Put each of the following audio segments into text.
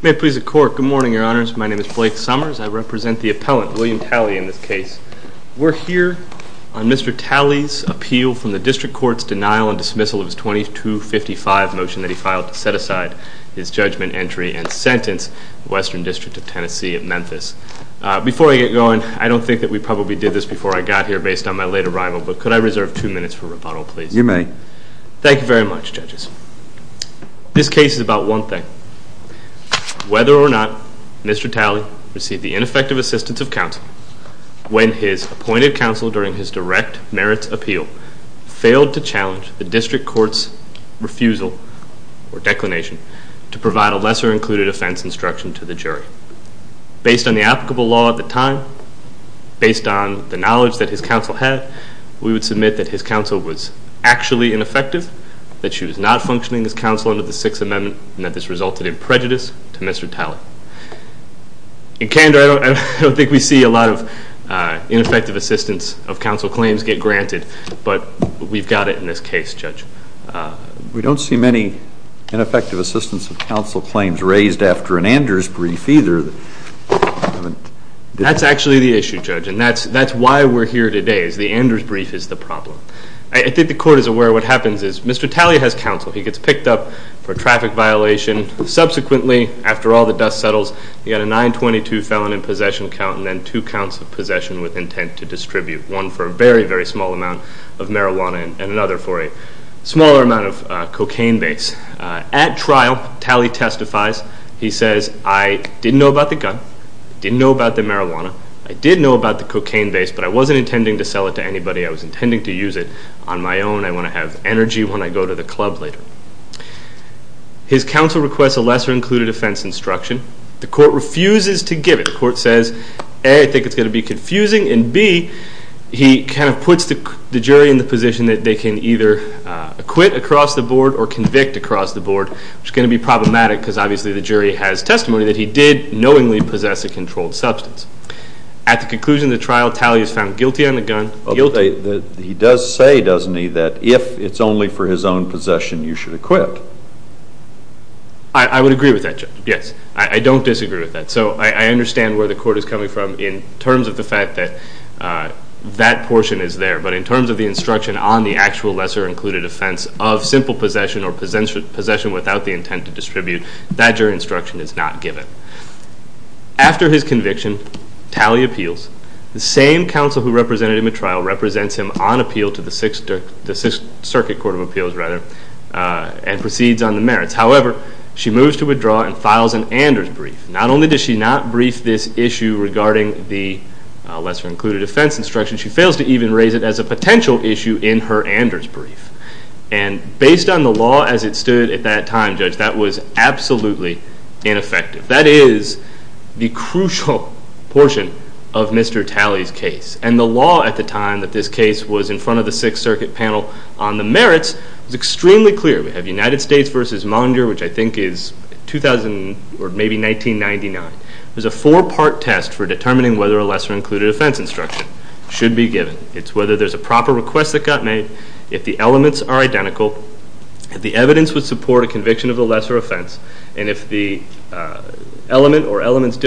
May it please the Court, good morning, Your Honors. My name is Blake Summers. I represent the appellant, William Talley, in this case. We're here on Mr. Talley's appeal from the dismissal of his 2255 motion that he filed to set aside his judgment entry and sentence Western District of Tennessee at Memphis. Before I get going, I don't think that we probably did this before I got here based on my late arrival, but could I reserve two minutes for rebuttal, please? You may. Thank you very much, judges. This case is about one thing. Whether or not Mr. Talley received the ineffective assistance of counsel when his appointed counsel during his direct merits appeal failed to challenge the district court's refusal or declination to provide a lesser included offense instruction to the jury. Based on the applicable law at the time, based on the knowledge that his counsel had, we would submit that his counsel was actually ineffective, that she was not functioning as counsel under the Sixth Amendment, and that this resulted in prejudice to Mr. Talley. Now, in candor, I don't think we see a lot of ineffective assistance of counsel claims get granted, but we've got it in this case, Judge. We don't see many ineffective assistance of counsel claims raised after an Anders brief either. That's actually the issue, Judge, and that's why we're here today is the Anders brief is the problem. I think the court is aware what happens is Mr. Talley has counsel. He gets picked up for traffic violation. Subsequently, after all the dust settles, he had a 922 felon in possession count and then two counts of possession with intent to distribute, one for a very, very small amount of marijuana and another for a smaller amount of cocaine base. At trial, Talley testifies. He says, I didn't know about the gun. I didn't know about the marijuana. I did know about the cocaine base, but I wasn't intending to sell it to anybody. I was intending to use it on my own. I want to have energy when I go to the club later. His counsel requests a lesser included offense instruction. The court refuses to give it. The court says, A, I think it's going to be confusing, and B, he kind of puts the jury in the position that they can either acquit across the board or convict across the board, which is going to be problematic because obviously the jury has testimony that he did knowingly possess a controlled substance. At the conclusion of the trial, Talley is found guilty on the gun, guilty. He does say, doesn't he, that if it's only for his own possession, you should acquit. I would agree with that, Judge. Yes. I don't disagree with that. So I understand where the court is coming from in terms of the fact that that portion is there, but in terms of the instruction on the actual lesser included offense of simple possession or possession without the intent to distribute, that jury instruction is not given. After his conviction, Talley appeals. The same counsel who represented him at trial represents him on appeal to the Sixth Circuit Court of Appeals and proceeds on the merits. However, she moves to withdraw and files an Anders brief. Not only does she not brief this issue regarding the lesser included offense instruction, she fails to even raise it as a potential issue in her Anders brief. And based on the law as it stood at that time, Judge, that was absolutely ineffective. That is the crucial portion of Mr. Talley's case. And the law at the time that this case was in front of the Sixth Circuit panel on the merits was extremely clear. We have United States v. Munger, which I think is 2000 or maybe 1999. It was a four-part test for determining whether a lesser included offense instruction should be given. It's whether there's a proper request that got made, if the elements are identical, if the evidence would support a conviction of the lesser offense, and if the element or elements are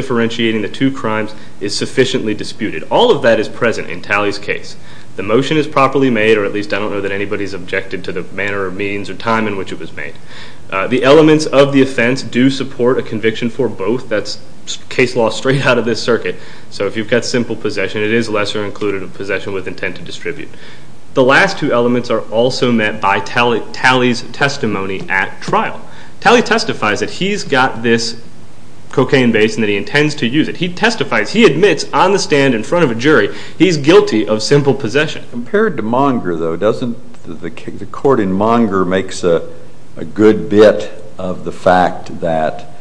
present in Talley's case. The motion is properly made, or at least I don't know that anybody's objected to the manner or means or time in which it was made. The elements of the offense do support a conviction for both. That's case law straight out of this circuit. So if you've got simple possession, it is lesser included possession with intent to distribute. The last two elements are also met by Talley's testimony at trial. Talley testifies that he's got this cocaine base and that he intends to use it. He testifies, he admits on the stand in front of a jury, he's guilty of simple possession. Compared to Munger though, doesn't the court in Munger make a good bit of the fact that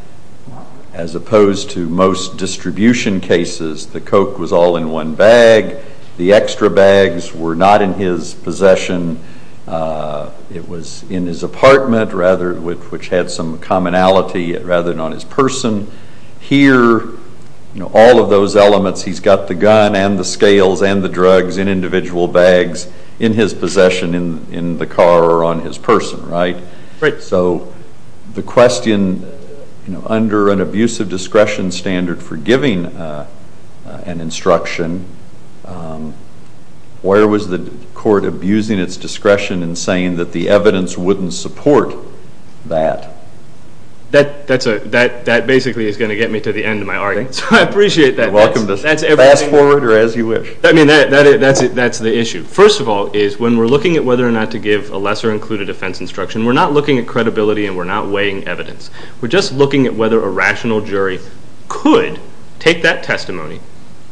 as opposed to most distribution cases, the coke was all in one bag, the extra bags were not in his possession, it was in his apartment rather, which had some commonality rather than on his person. Here, all of those elements, he's got the gun and the scales and the drugs in individual bags in his possession in the car or on his person, right? Right. So the question, you know, under an abusive discretion standard for giving an instruction, where was the court abusing its discretion in saying that the evidence wouldn't support that? That basically is going to get me to the end of my argument, so I appreciate that. You're welcome to fast forward or as you wish. I mean, that's the issue. First of all is when we're looking at whether or not to give a lesser included offense instruction, we're not looking at credibility and we're not weighing evidence. We're just looking at whether a rational jury could take that testimony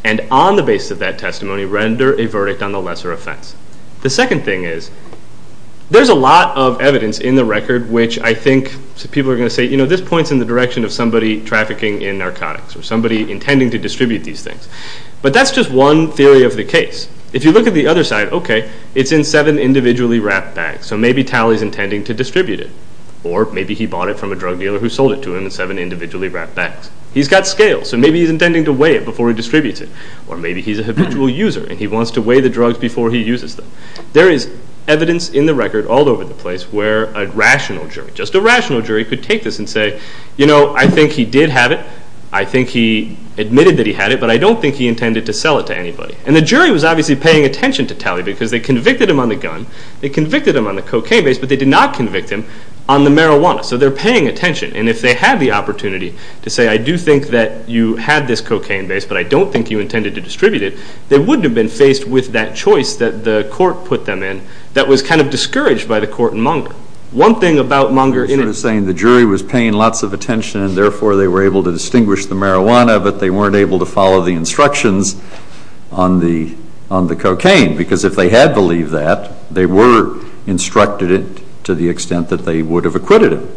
and on the basis of that testimony, render a verdict on the lesser offense. The second thing is, there's a lot of evidence in the record which I think people are going to say, you know, this points in the direction of somebody trafficking in narcotics or somebody intending to distribute these things, but that's just one theory of the case. If you look at the other side, okay, it's in seven individually wrapped bags, so maybe Talley's intending to distribute it or maybe he bought it from a drug dealer who sold it to him in seven individually wrapped bags. He's got scales, so maybe he's intending to weigh it before he distributes it or maybe he's a habitual user and he wants to weigh the drugs before he uses them. There is evidence in the record all over the place where a rational jury, just a rational jury could take this and say, you know, I think he did have it. I think he admitted that he had it, but I don't think he intended to sell it to anybody. And the jury was obviously paying attention to Talley because they convicted him on the gun, they convicted him on the cocaine base, but they did not convict him on the marijuana. So they're paying attention and if they had the opportunity to say, I do think that you had this they wouldn't have been faced with that choice that the court put them in that was kind of discouraged by the court in Munger. One thing about Munger... It was saying the jury was paying lots of attention and therefore they were able to distinguish the marijuana, but they weren't able to follow the instructions on the cocaine because if they had believed that, they were instructed it to the extent that they would have acquitted him.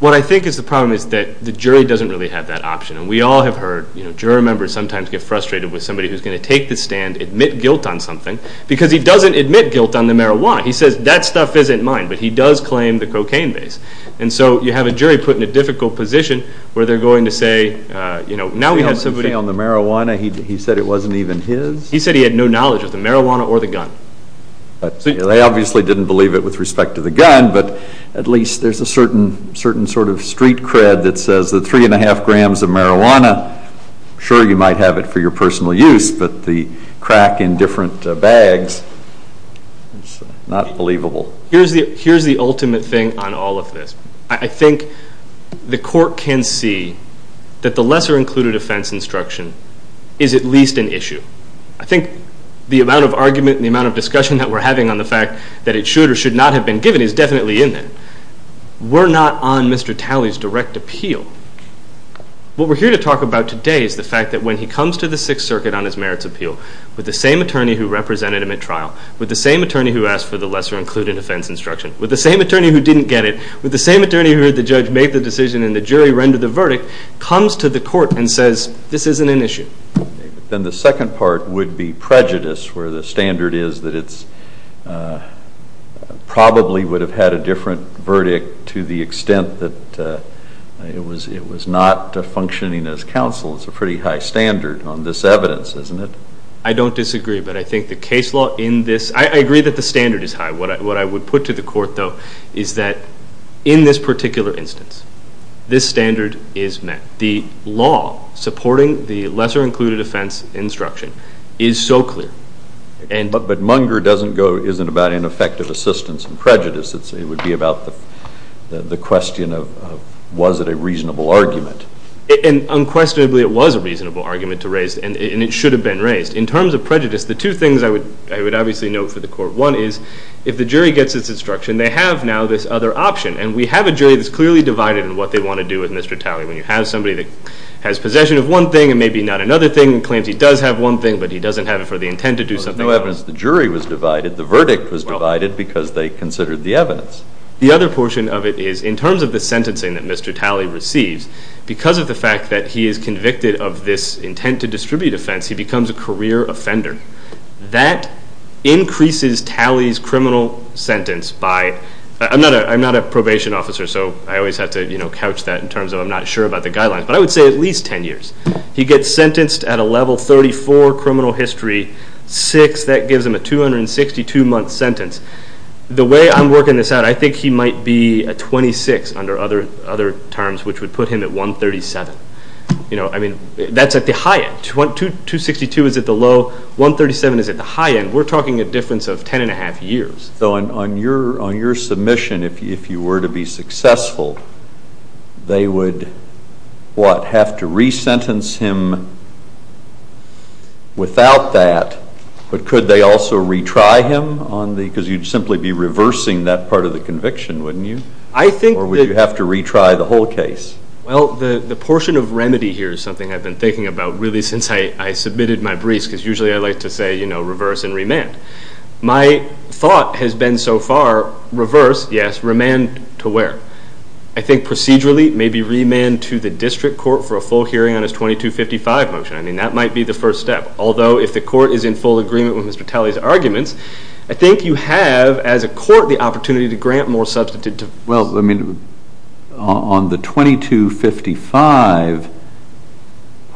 What I think is the problem is that the jury doesn't really have that option and we all have you know, jury members sometimes get frustrated with somebody who's going to take the stand, admit guilt on something, because he doesn't admit guilt on the marijuana. He says that stuff isn't mine, but he does claim the cocaine base. And so you have a jury put in a difficult position where they're going to say, you know, now we have somebody... On the marijuana, he said it wasn't even his? He said he had no knowledge of the marijuana or the gun. They obviously didn't believe it with respect to the gun, but at least there's a certain sort of sure you might have it for your personal use, but the crack in different bags is not believable. Here's the ultimate thing on all of this. I think the court can see that the lesser included offense instruction is at least an issue. I think the amount of argument and the amount of discussion that we're having on the fact that it should or should not have been given is definitely in there. We're not on Mr. Talley's direct appeal. What we're here to talk about today is the fact that when he comes to the Sixth Circuit on his merits appeal with the same attorney who represented him at trial, with the same attorney who asked for the lesser included offense instruction, with the same attorney who didn't get it, with the same attorney who the judge made the decision and the jury rendered the verdict, comes to the court and says this isn't an issue. Then the second part would be prejudice, where the standard is that it's probably would have had a different verdict to the extent that it was not functioning as counsel. It's a pretty high standard on this evidence, isn't it? I don't disagree, but I think the case law in this, I agree that the standard is high. What I would put to the court though is that in this particular instance, this standard is met. The law supporting the lesser included offense instruction is so clear. But munger isn't about ineffective assistance and prejudice. It would be about the question of was it a reasonable argument. And unquestionably it was a reasonable argument to raise and it should have been raised. In terms of prejudice, the two things I would obviously note for the court, one is if the jury gets its instruction, they have now this other option and we have a jury that's clearly divided in what they want to do with Mr. Talley. When you have somebody that has possession of one thing and maybe not another, claims he does have one thing, but he doesn't have it for the intent to do something. There's no evidence the jury was divided. The verdict was divided because they considered the evidence. The other portion of it is in terms of the sentencing that Mr. Talley receives, because of the fact that he is convicted of this intent to distribute offense, he becomes a career offender. That increases Talley's criminal sentence by, I'm not a probation officer, so I always have to couch that in terms of I'm not sure about the guidelines, but I would say at least 10 years. He gets sentenced at a level 34 criminal history, 6, that gives him a 262-month sentence. The way I'm working this out, I think he might be at 26 under other terms, which would put him at 137. That's at the high end. 262 is at the low, 137 is at the high end. We're talking a difference of 10 and a half years. So on your submission, if you were to be successful, they would, what, have to re-sentence him without that, but could they also retry him? Because you'd simply be reversing that part of the conviction, wouldn't you? Or would you have to retry the whole case? Well, the portion of remedy here is something I've been thinking about really since I submitted my briefs, because usually I like to say, you know, reverse and remand. My thought has been so far, reverse, yes, remand to where? I think procedurally, maybe remand to the district court for a full hearing on his 2255 motion. I mean, that might be the first step. Although if the court is in full agreement with Mr. Talley's arguments, I think you have, as a court, the opportunity to grant more substantive... Well, I mean, on the 2255,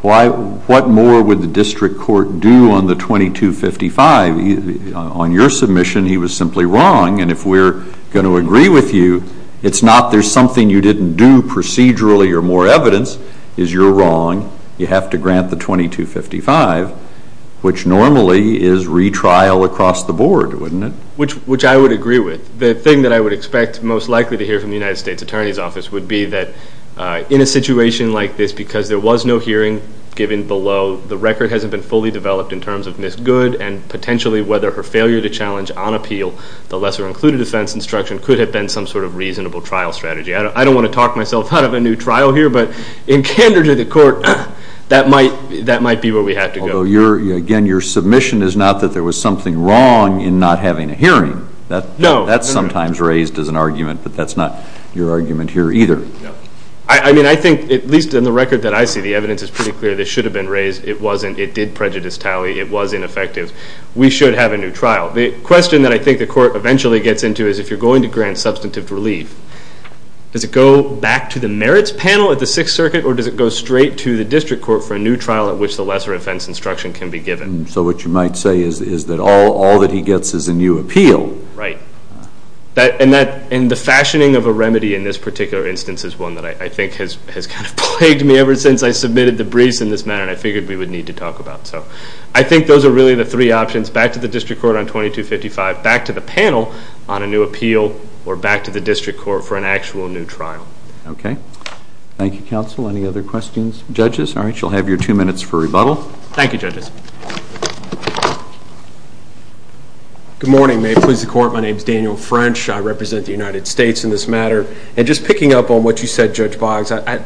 why, what more would the district court do on the 2255? On your submission, he was simply wrong, and if we're going to agree with you, it's not there's something you didn't do procedurally or more evidence is you're wrong. You have to grant the 2255, which normally is retrial across the board, wouldn't it? Which I would agree with. The thing that I would expect most likely to hear from the United States Attorney's Office would be that in a situation like this, because there was no hearing given below, the record hasn't been fully developed in terms of Ms. Good and potentially whether her failure to challenge on appeal the lesser-included offense instruction could have been some sort of reasonable trial strategy. I don't want to talk myself out of a new trial here, but in candor to the court, that might be where we have to go. Although, again, your submission is not that there was something wrong in not having a hearing. No. That's sometimes raised as an argument, but that's not your argument here either. I mean, I think, at least in the record that I see, the it wasn't. It did prejudice tally. It was ineffective. We should have a new trial. The question that I think the court eventually gets into is if you're going to grant substantive relief, does it go back to the merits panel at the Sixth Circuit or does it go straight to the district court for a new trial at which the lesser offense instruction can be given? So what you might say is that all that he gets is a new appeal. Right. And the fashioning of a remedy in this particular instance is one that I think has kind of plagued me ever since I submitted the briefs in this manner. I figured we would need to talk about. So I think those are really the three options. Back to the district court on 2255, back to the panel on a new appeal, or back to the district court for an actual new trial. Okay. Thank you, counsel. Any other questions? Judges? All right. You'll have your two minutes for rebuttal. Thank you, judges. Good morning. May it please the court. My name is Daniel French. I represent the United States in this matter. And just picking up on what you said, Judge Boggs, I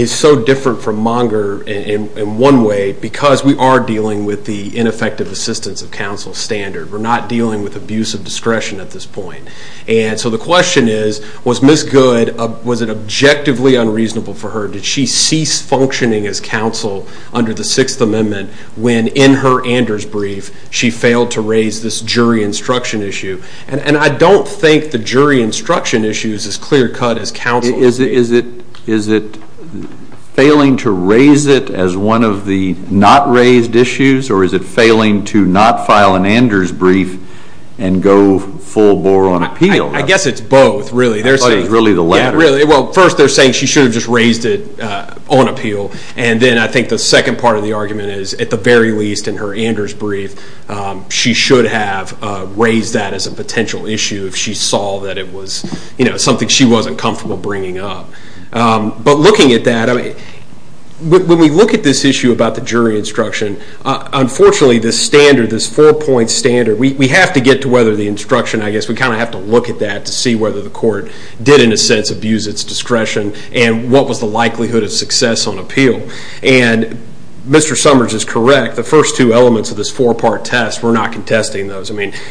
am so different from Monger in one way because we are dealing with the ineffective assistance of counsel standard. We're not dealing with abuse of discretion at this point. And so the question is, was Ms. Good, was it objectively unreasonable for her? Did she cease functioning as counsel under the Sixth Amendment when in her Anders brief she failed to raise this jury instruction issue? And I don't think the jury instruction issue is as clear cut as counsel. Is it failing to raise it as one of the not raised issues? Or is it failing to not file an Anders brief and go full bore on appeal? I guess it's both, really. I thought it was really the latter. Yeah, really. Well, first they're saying she should have just raised it on appeal. And then I think the second part of the argument is, at the end of the day, it's a potential issue if she saw that it was something she wasn't comfortable bringing up. But looking at that, when we look at this issue about the jury instruction, unfortunately this standard, this four-point standard, we have to get to whether the instruction, I guess, we kind of have to look at that to see whether the court did in a sense abuse its discretion and what was the likelihood of success on appeal. And Mr. Summers is correct. The first two elements of this four-part we're not contesting those.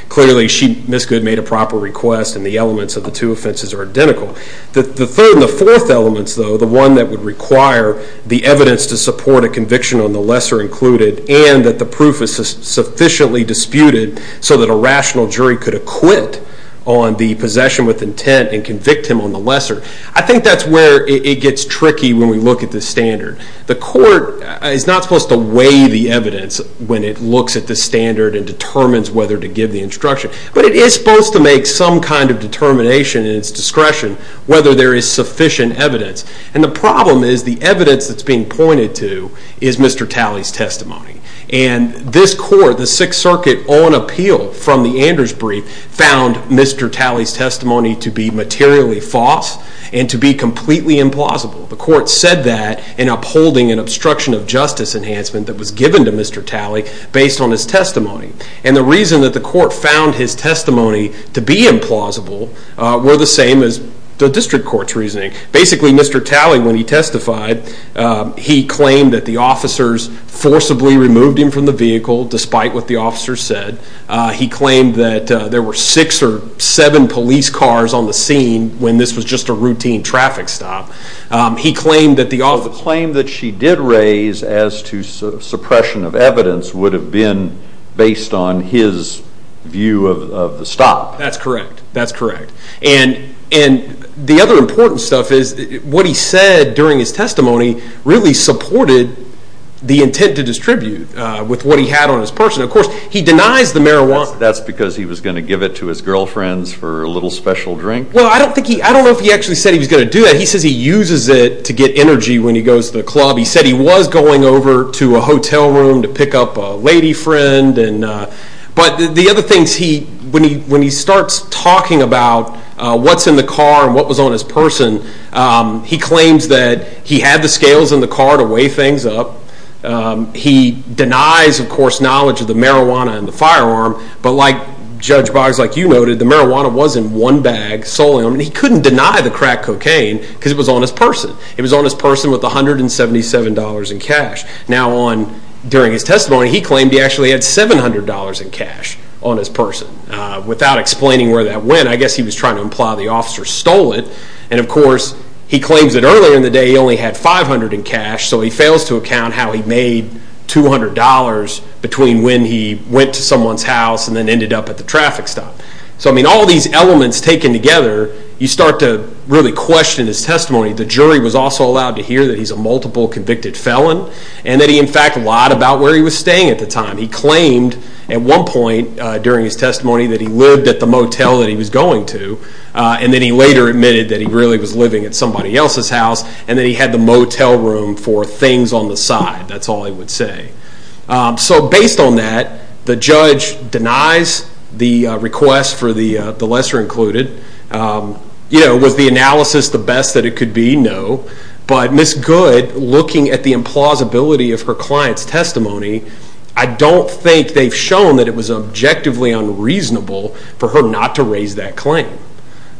Clearly, Ms. Good made a proper request and the elements of the two offenses are identical. The third and the fourth elements, though, the one that would require the evidence to support a conviction on the lesser included and that the proof is sufficiently disputed so that a rational jury could acquit on the possession with intent and convict him on the lesser, I think that's where it gets tricky when we look at this standard. The court is not supposed to weigh the evidence when it looks at the standard and determines whether to give the instruction, but it is supposed to make some kind of determination in its discretion whether there is sufficient evidence. And the problem is the evidence that's being pointed to is Mr. Talley's testimony. And this court, the Sixth Circuit, on appeal from the Anders brief found Mr. Talley's testimony to be materially false and to be completely implausible. The court said that in upholding an obstruction of justice enhancement that was given to Mr. Talley based on his testimony. And the reason that the court found his testimony to be implausible were the same as the district court's reasoning. Basically, Mr. Talley, when he testified, he claimed that the officers forcibly removed him from the vehicle despite what the officers said. He claimed that there were six or seven police cars on the scene when this was just a routine traffic stop. He claimed that the officers... He claimed that the claim that she did raise as to suppression of evidence would have been based on his view of the stop. That's correct. That's correct. And the other important stuff is what he said during his testimony really supported the intent to distribute with what he had on his person. Of course, he denies the marijuana. That's because he was going to give it to his girlfriends for a little special drink? Well, I don't think he... I don't know if he actually said he was going to do that. He says he uses it to get energy when he goes to the club. He said he was going over to a hotel room to pick up a lady friend. But the other things he... When he starts talking about what's in the car and what was on his person, he claims that he had the scales in the car to weigh things up. He denies, of course, knowledge of the marijuana and the firearm. But like Judge Boggs, like you noted, the marijuana was in one bag solely. He couldn't deny the crack cocaine because it was on his person. It was on his person with $177 in cash. Now, during his testimony, he claimed he actually had $700 in cash on his person. Without explaining where that went, I guess he was trying to imply the officer stole it. And of course, he claims that earlier in the day he only had $500 in cash, so he fails to account how he made $200 between when he went to someone's house and then ended up at the traffic stop. So all these elements taken together, you start to really question his testimony. The jury was also allowed to hear that he's a multiple convicted felon and that he, in fact, lied about where he was staying at the time. He claimed at one point during his testimony that he lived at the motel that he was going to. And then he later admitted that he really was living at somebody else's house and that he had the motel room for things on the side. That's all the request for the lesser included. Was the analysis the best that it could be? No. But Ms. Good, looking at the implausibility of her client's testimony, I don't think they've shown that it was objectively unreasonable for her not to raise that claim.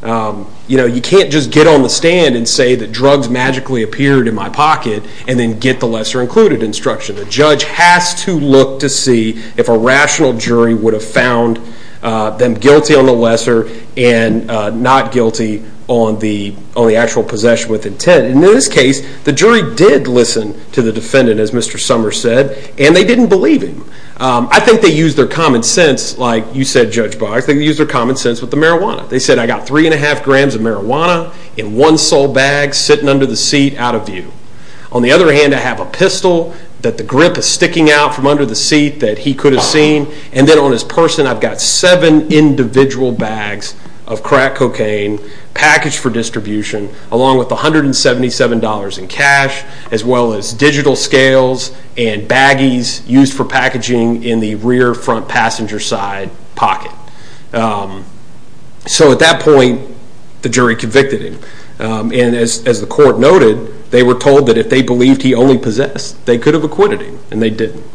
You can't just get on the stand and say that drugs magically appeared in my pocket and then get the lesser included instruction. The judge has to look to see if a rational jury would have found them guilty on the lesser and not guilty on the actual possession with intent. In this case, the jury did listen to the defendant, as Mr. Summers said, and they didn't believe him. I think they used their common sense, like you said, Judge Boggs. They used their common sense with the marijuana. They said, I got three and a half grams of marijuana in one sole bag sitting under the seat out of view. On the other hand, I have a pistol that the grip is sticking out from under the seat that he could have seen. And then on his person, I've got seven individual bags of crack cocaine packaged for distribution, along with $177 in cash, as well as digital scales and baggies used for packaging in the rear front passenger side pocket. So at that point, the jury convicted him. And as the court noted, they were told that if they believed he only possessed, they could have acquitted him, and they didn't.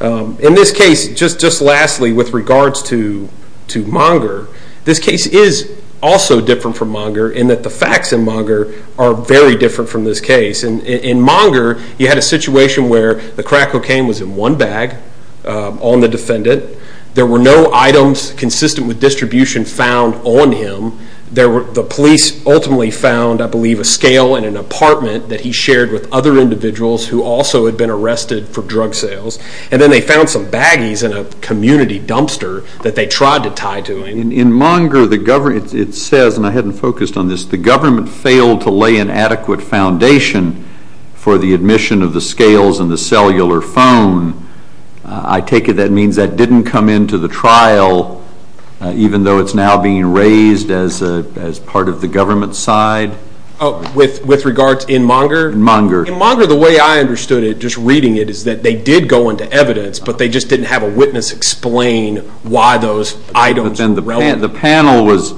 In this case, just lastly, with regards to Monger, this case is also different from Monger in that the facts in Monger are very different from this case. In Monger, you had a situation where the crack cocaine was in one bag on the defendant. There were no items consistent with distribution found on him. The police ultimately found, I believe, a scale in an apartment that he shared with other individuals who also had been arrested for drug sales. And then they found some baggies in a community dumpster that they tried to tie to him. In Monger, it says, and I hadn't focused on this, the government failed to lay an adequate foundation for the admission of the scales and the cellular phone. I take it that means that didn't come into the trial, even though it's now being raised as part of the government side? With regards in Monger? Monger. In Monger, the way I understood it, just reading it, is that they did go into evidence, but they just didn't have a witness explain why those items were relevant. The panel was,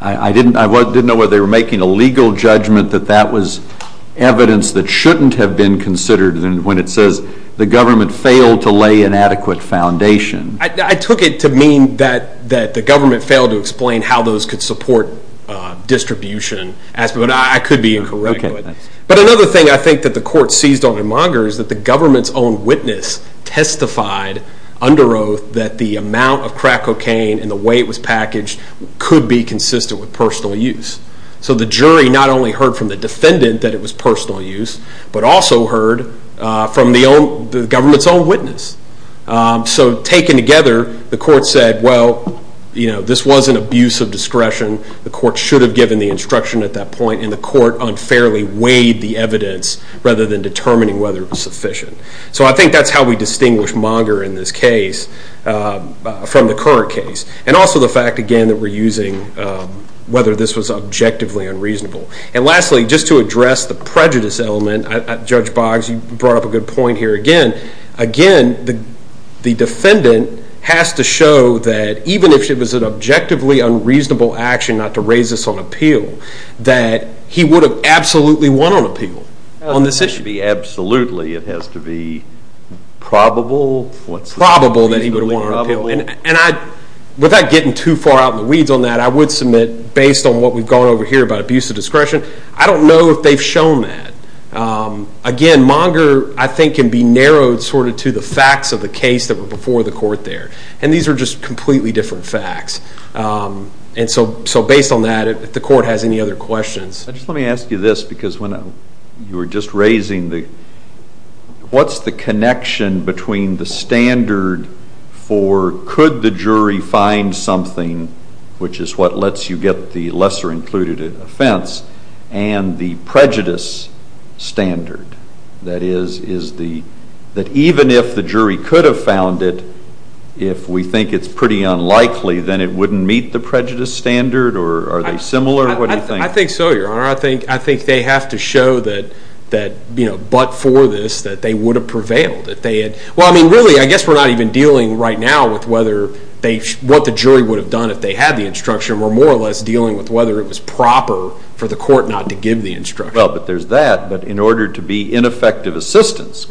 I didn't know whether they were making a legal judgment that that was evidence that shouldn't have been considered when it says, the government failed to lay an adequate foundation. I took it to mean that the government failed to explain how those could support distribution, but I could be incorrect. But another thing I think that the court seized on in Monger is that the government's own witness testified under oath that the amount of crack cocaine and the way it was packaged could be consistent with personal use. So the jury not only heard from the defendant that it was personal use, but also heard from the government's own witness. So when they came together, the court said, well, this was an abuse of discretion. The court should have given the instruction at that point, and the court unfairly weighed the evidence rather than determining whether it was sufficient. So I think that's how we distinguish Monger in this case from the current case. And also the fact, again, that we're using whether this was objectively unreasonable. And lastly, just to address the prejudice element, Judge Boggs, you brought up a good point here. Again, the defendant has to show that even if it was an objectively unreasonable action, not to raise this on appeal, that he would have absolutely won on appeal on this issue. To be absolutely, it has to be probable? Probable that he would have won on appeal. And without getting too far out in the weeds on that, I would submit, based on what we've gone over here about abuse of discretion, I don't know if they've shown that. Again, Monger, I think, can be narrowed sort of to the facts of the case that were before the court there. And these are just completely different facts. And so based on that, if the court has any other questions. Just let me ask you this, because when you were just raising the, what's the connection between the standard for could the jury find something, which is what lets you get the lesser included offense, and the prejudice standard? That is, is the, that even if the jury could have found it, if we think it's pretty unlikely, then it wouldn't meet the prejudice standard? Or are they similar? What do you think? I think so, Your Honor. I think they have to show that, you know, but for this, that they would have prevailed. If they had, well, I mean, really, I guess we're not even dealing right now with whether they, what the jury would have done if they had the instruction. We're more or less dealing with whether it was proper for the court not to give the instruction. Well, but there's that. But in order to be ineffective assistance,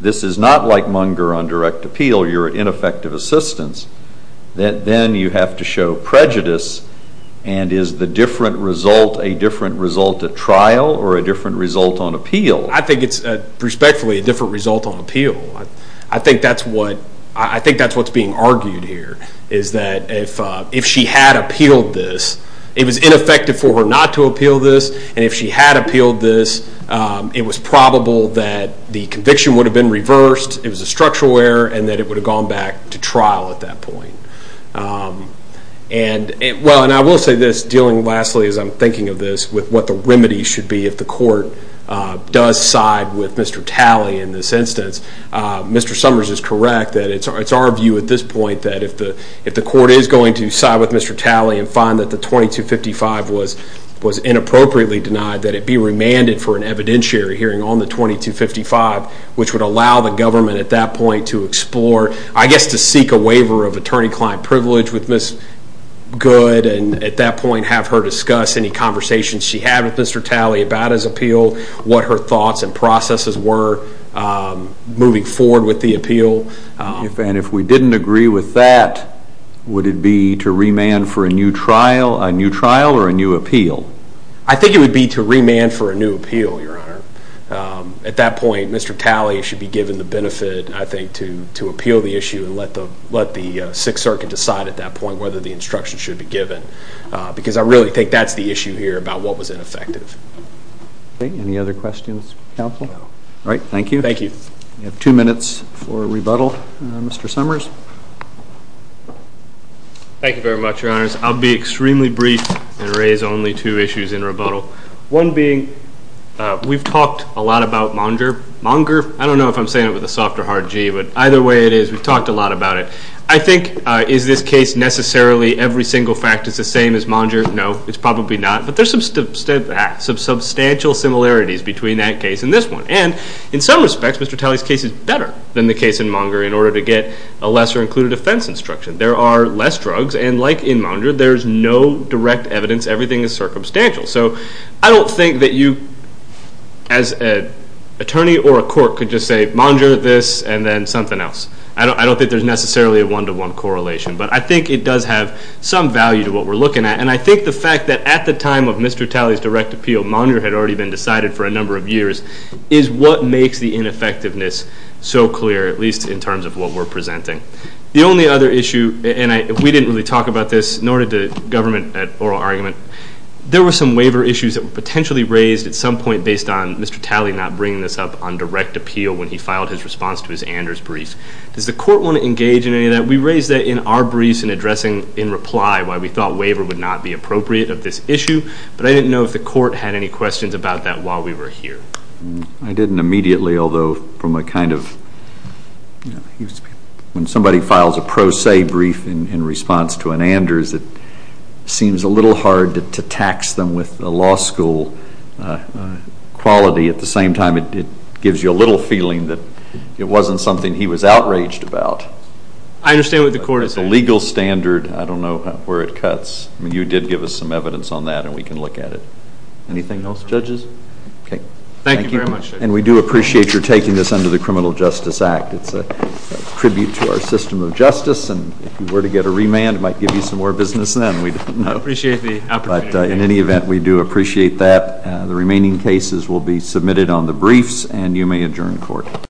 this is not like Munger on direct appeal. You're ineffective assistance. Then you have to show prejudice. And is the different result, a different result at trial? Or a different result on appeal? I think it's, respectfully, a different result on appeal. I think that's what, I think that's what's being argued here. Is that if she had appealed this, it was ineffective for her not to appeal this. And if she had appealed this, it was probable that the conviction would have been reversed. It was a structural error. And that it would have gone back to trial at that point. And, well, and I will say this, dealing lastly, as I'm thinking of this, with what the remedy should be if the court does side with Mr. Talley in this instance. Mr. Summers is correct that it's our view at this point that if the court is going to side with Mr. Talley and find that the 2255 was inappropriately denied, that it be remanded for an evidentiary hearing on the 2255, which would allow the government at that point to explore, I guess to seek a waiver of attorney-client privilege with Ms. Good. And at that point, have her discuss any conversations she had with Mr. Talley about his appeal. What her thoughts and processes were. Moving forward with the appeal. And if we didn't agree with that, would it be to remand for a new trial or a new appeal? I think it would be to remand for a new appeal, Your Honor. At that point, Mr. Talley should be given the benefit, I think, to appeal the issue and let the Sixth Circuit decide at that point whether the instruction should be given. Because I really think that's the issue here about what was ineffective. Any other questions, counsel? All right. Thank you. Thank you. We have two minutes for rebuttal. Mr. Summers. Thank you very much, Your Honors. I'll be extremely brief and raise only two issues in rebuttal. One being, we've talked a lot about Monger. Monger? I don't know if I'm saying it with a soft or hard G. But either way it is, we've talked a lot about it. I think, is this case necessarily every single fact is the same as Monger? No, it's probably not. But there's some substantial similarities between that case and this one. And in some respects, Mr. Talley's case is better than the case in Monger in order to get a lesser included offense instruction. There are less drugs. And like in Monger, there's no direct evidence. Everything is circumstantial. So I don't think that you, as an attorney or a court, could just say Monger this and then something else. I don't think there's necessarily a one-to-one correlation. But I think it does have some value to what we're looking at. And I think the fact that at the time of Mr. Talley's direct appeal, Monger had already been decided for a number of years, is what makes the ineffectiveness so clear, at least in terms of what we're presenting. The only other issue, and we didn't really talk about this, nor did the government at oral argument, there were some waiver issues that were potentially raised at some point based on Mr. Talley not bringing this up on direct appeal when he filed his response to his Anders brief. Does the court want to engage in any of that? We raised that in our briefs in addressing, in reply, why we thought waiver would not be appropriate of this issue. But I didn't know if the court had any questions about that while we were here. I didn't immediately, although from a kind of, you know, when somebody files a pro se brief in response to an Anders, it seems a little hard to tax them with a law school quality. At the same time, it gives you a little feeling that it wasn't something he was outraged about. I understand what the court is saying. It's a legal standard. I don't know where it cuts. You did give us some evidence on that, and we can look at it. Anything else, judges? Okay. Thank you very much, Judge. And we do appreciate your taking this under the Criminal Justice Act. It's a tribute to our system of justice, and if you were to get a remand, it might give you some more business then. We don't know. I appreciate the opportunity. But in any event, we do appreciate that. The remaining cases will be submitted on the briefs, and you may adjourn court.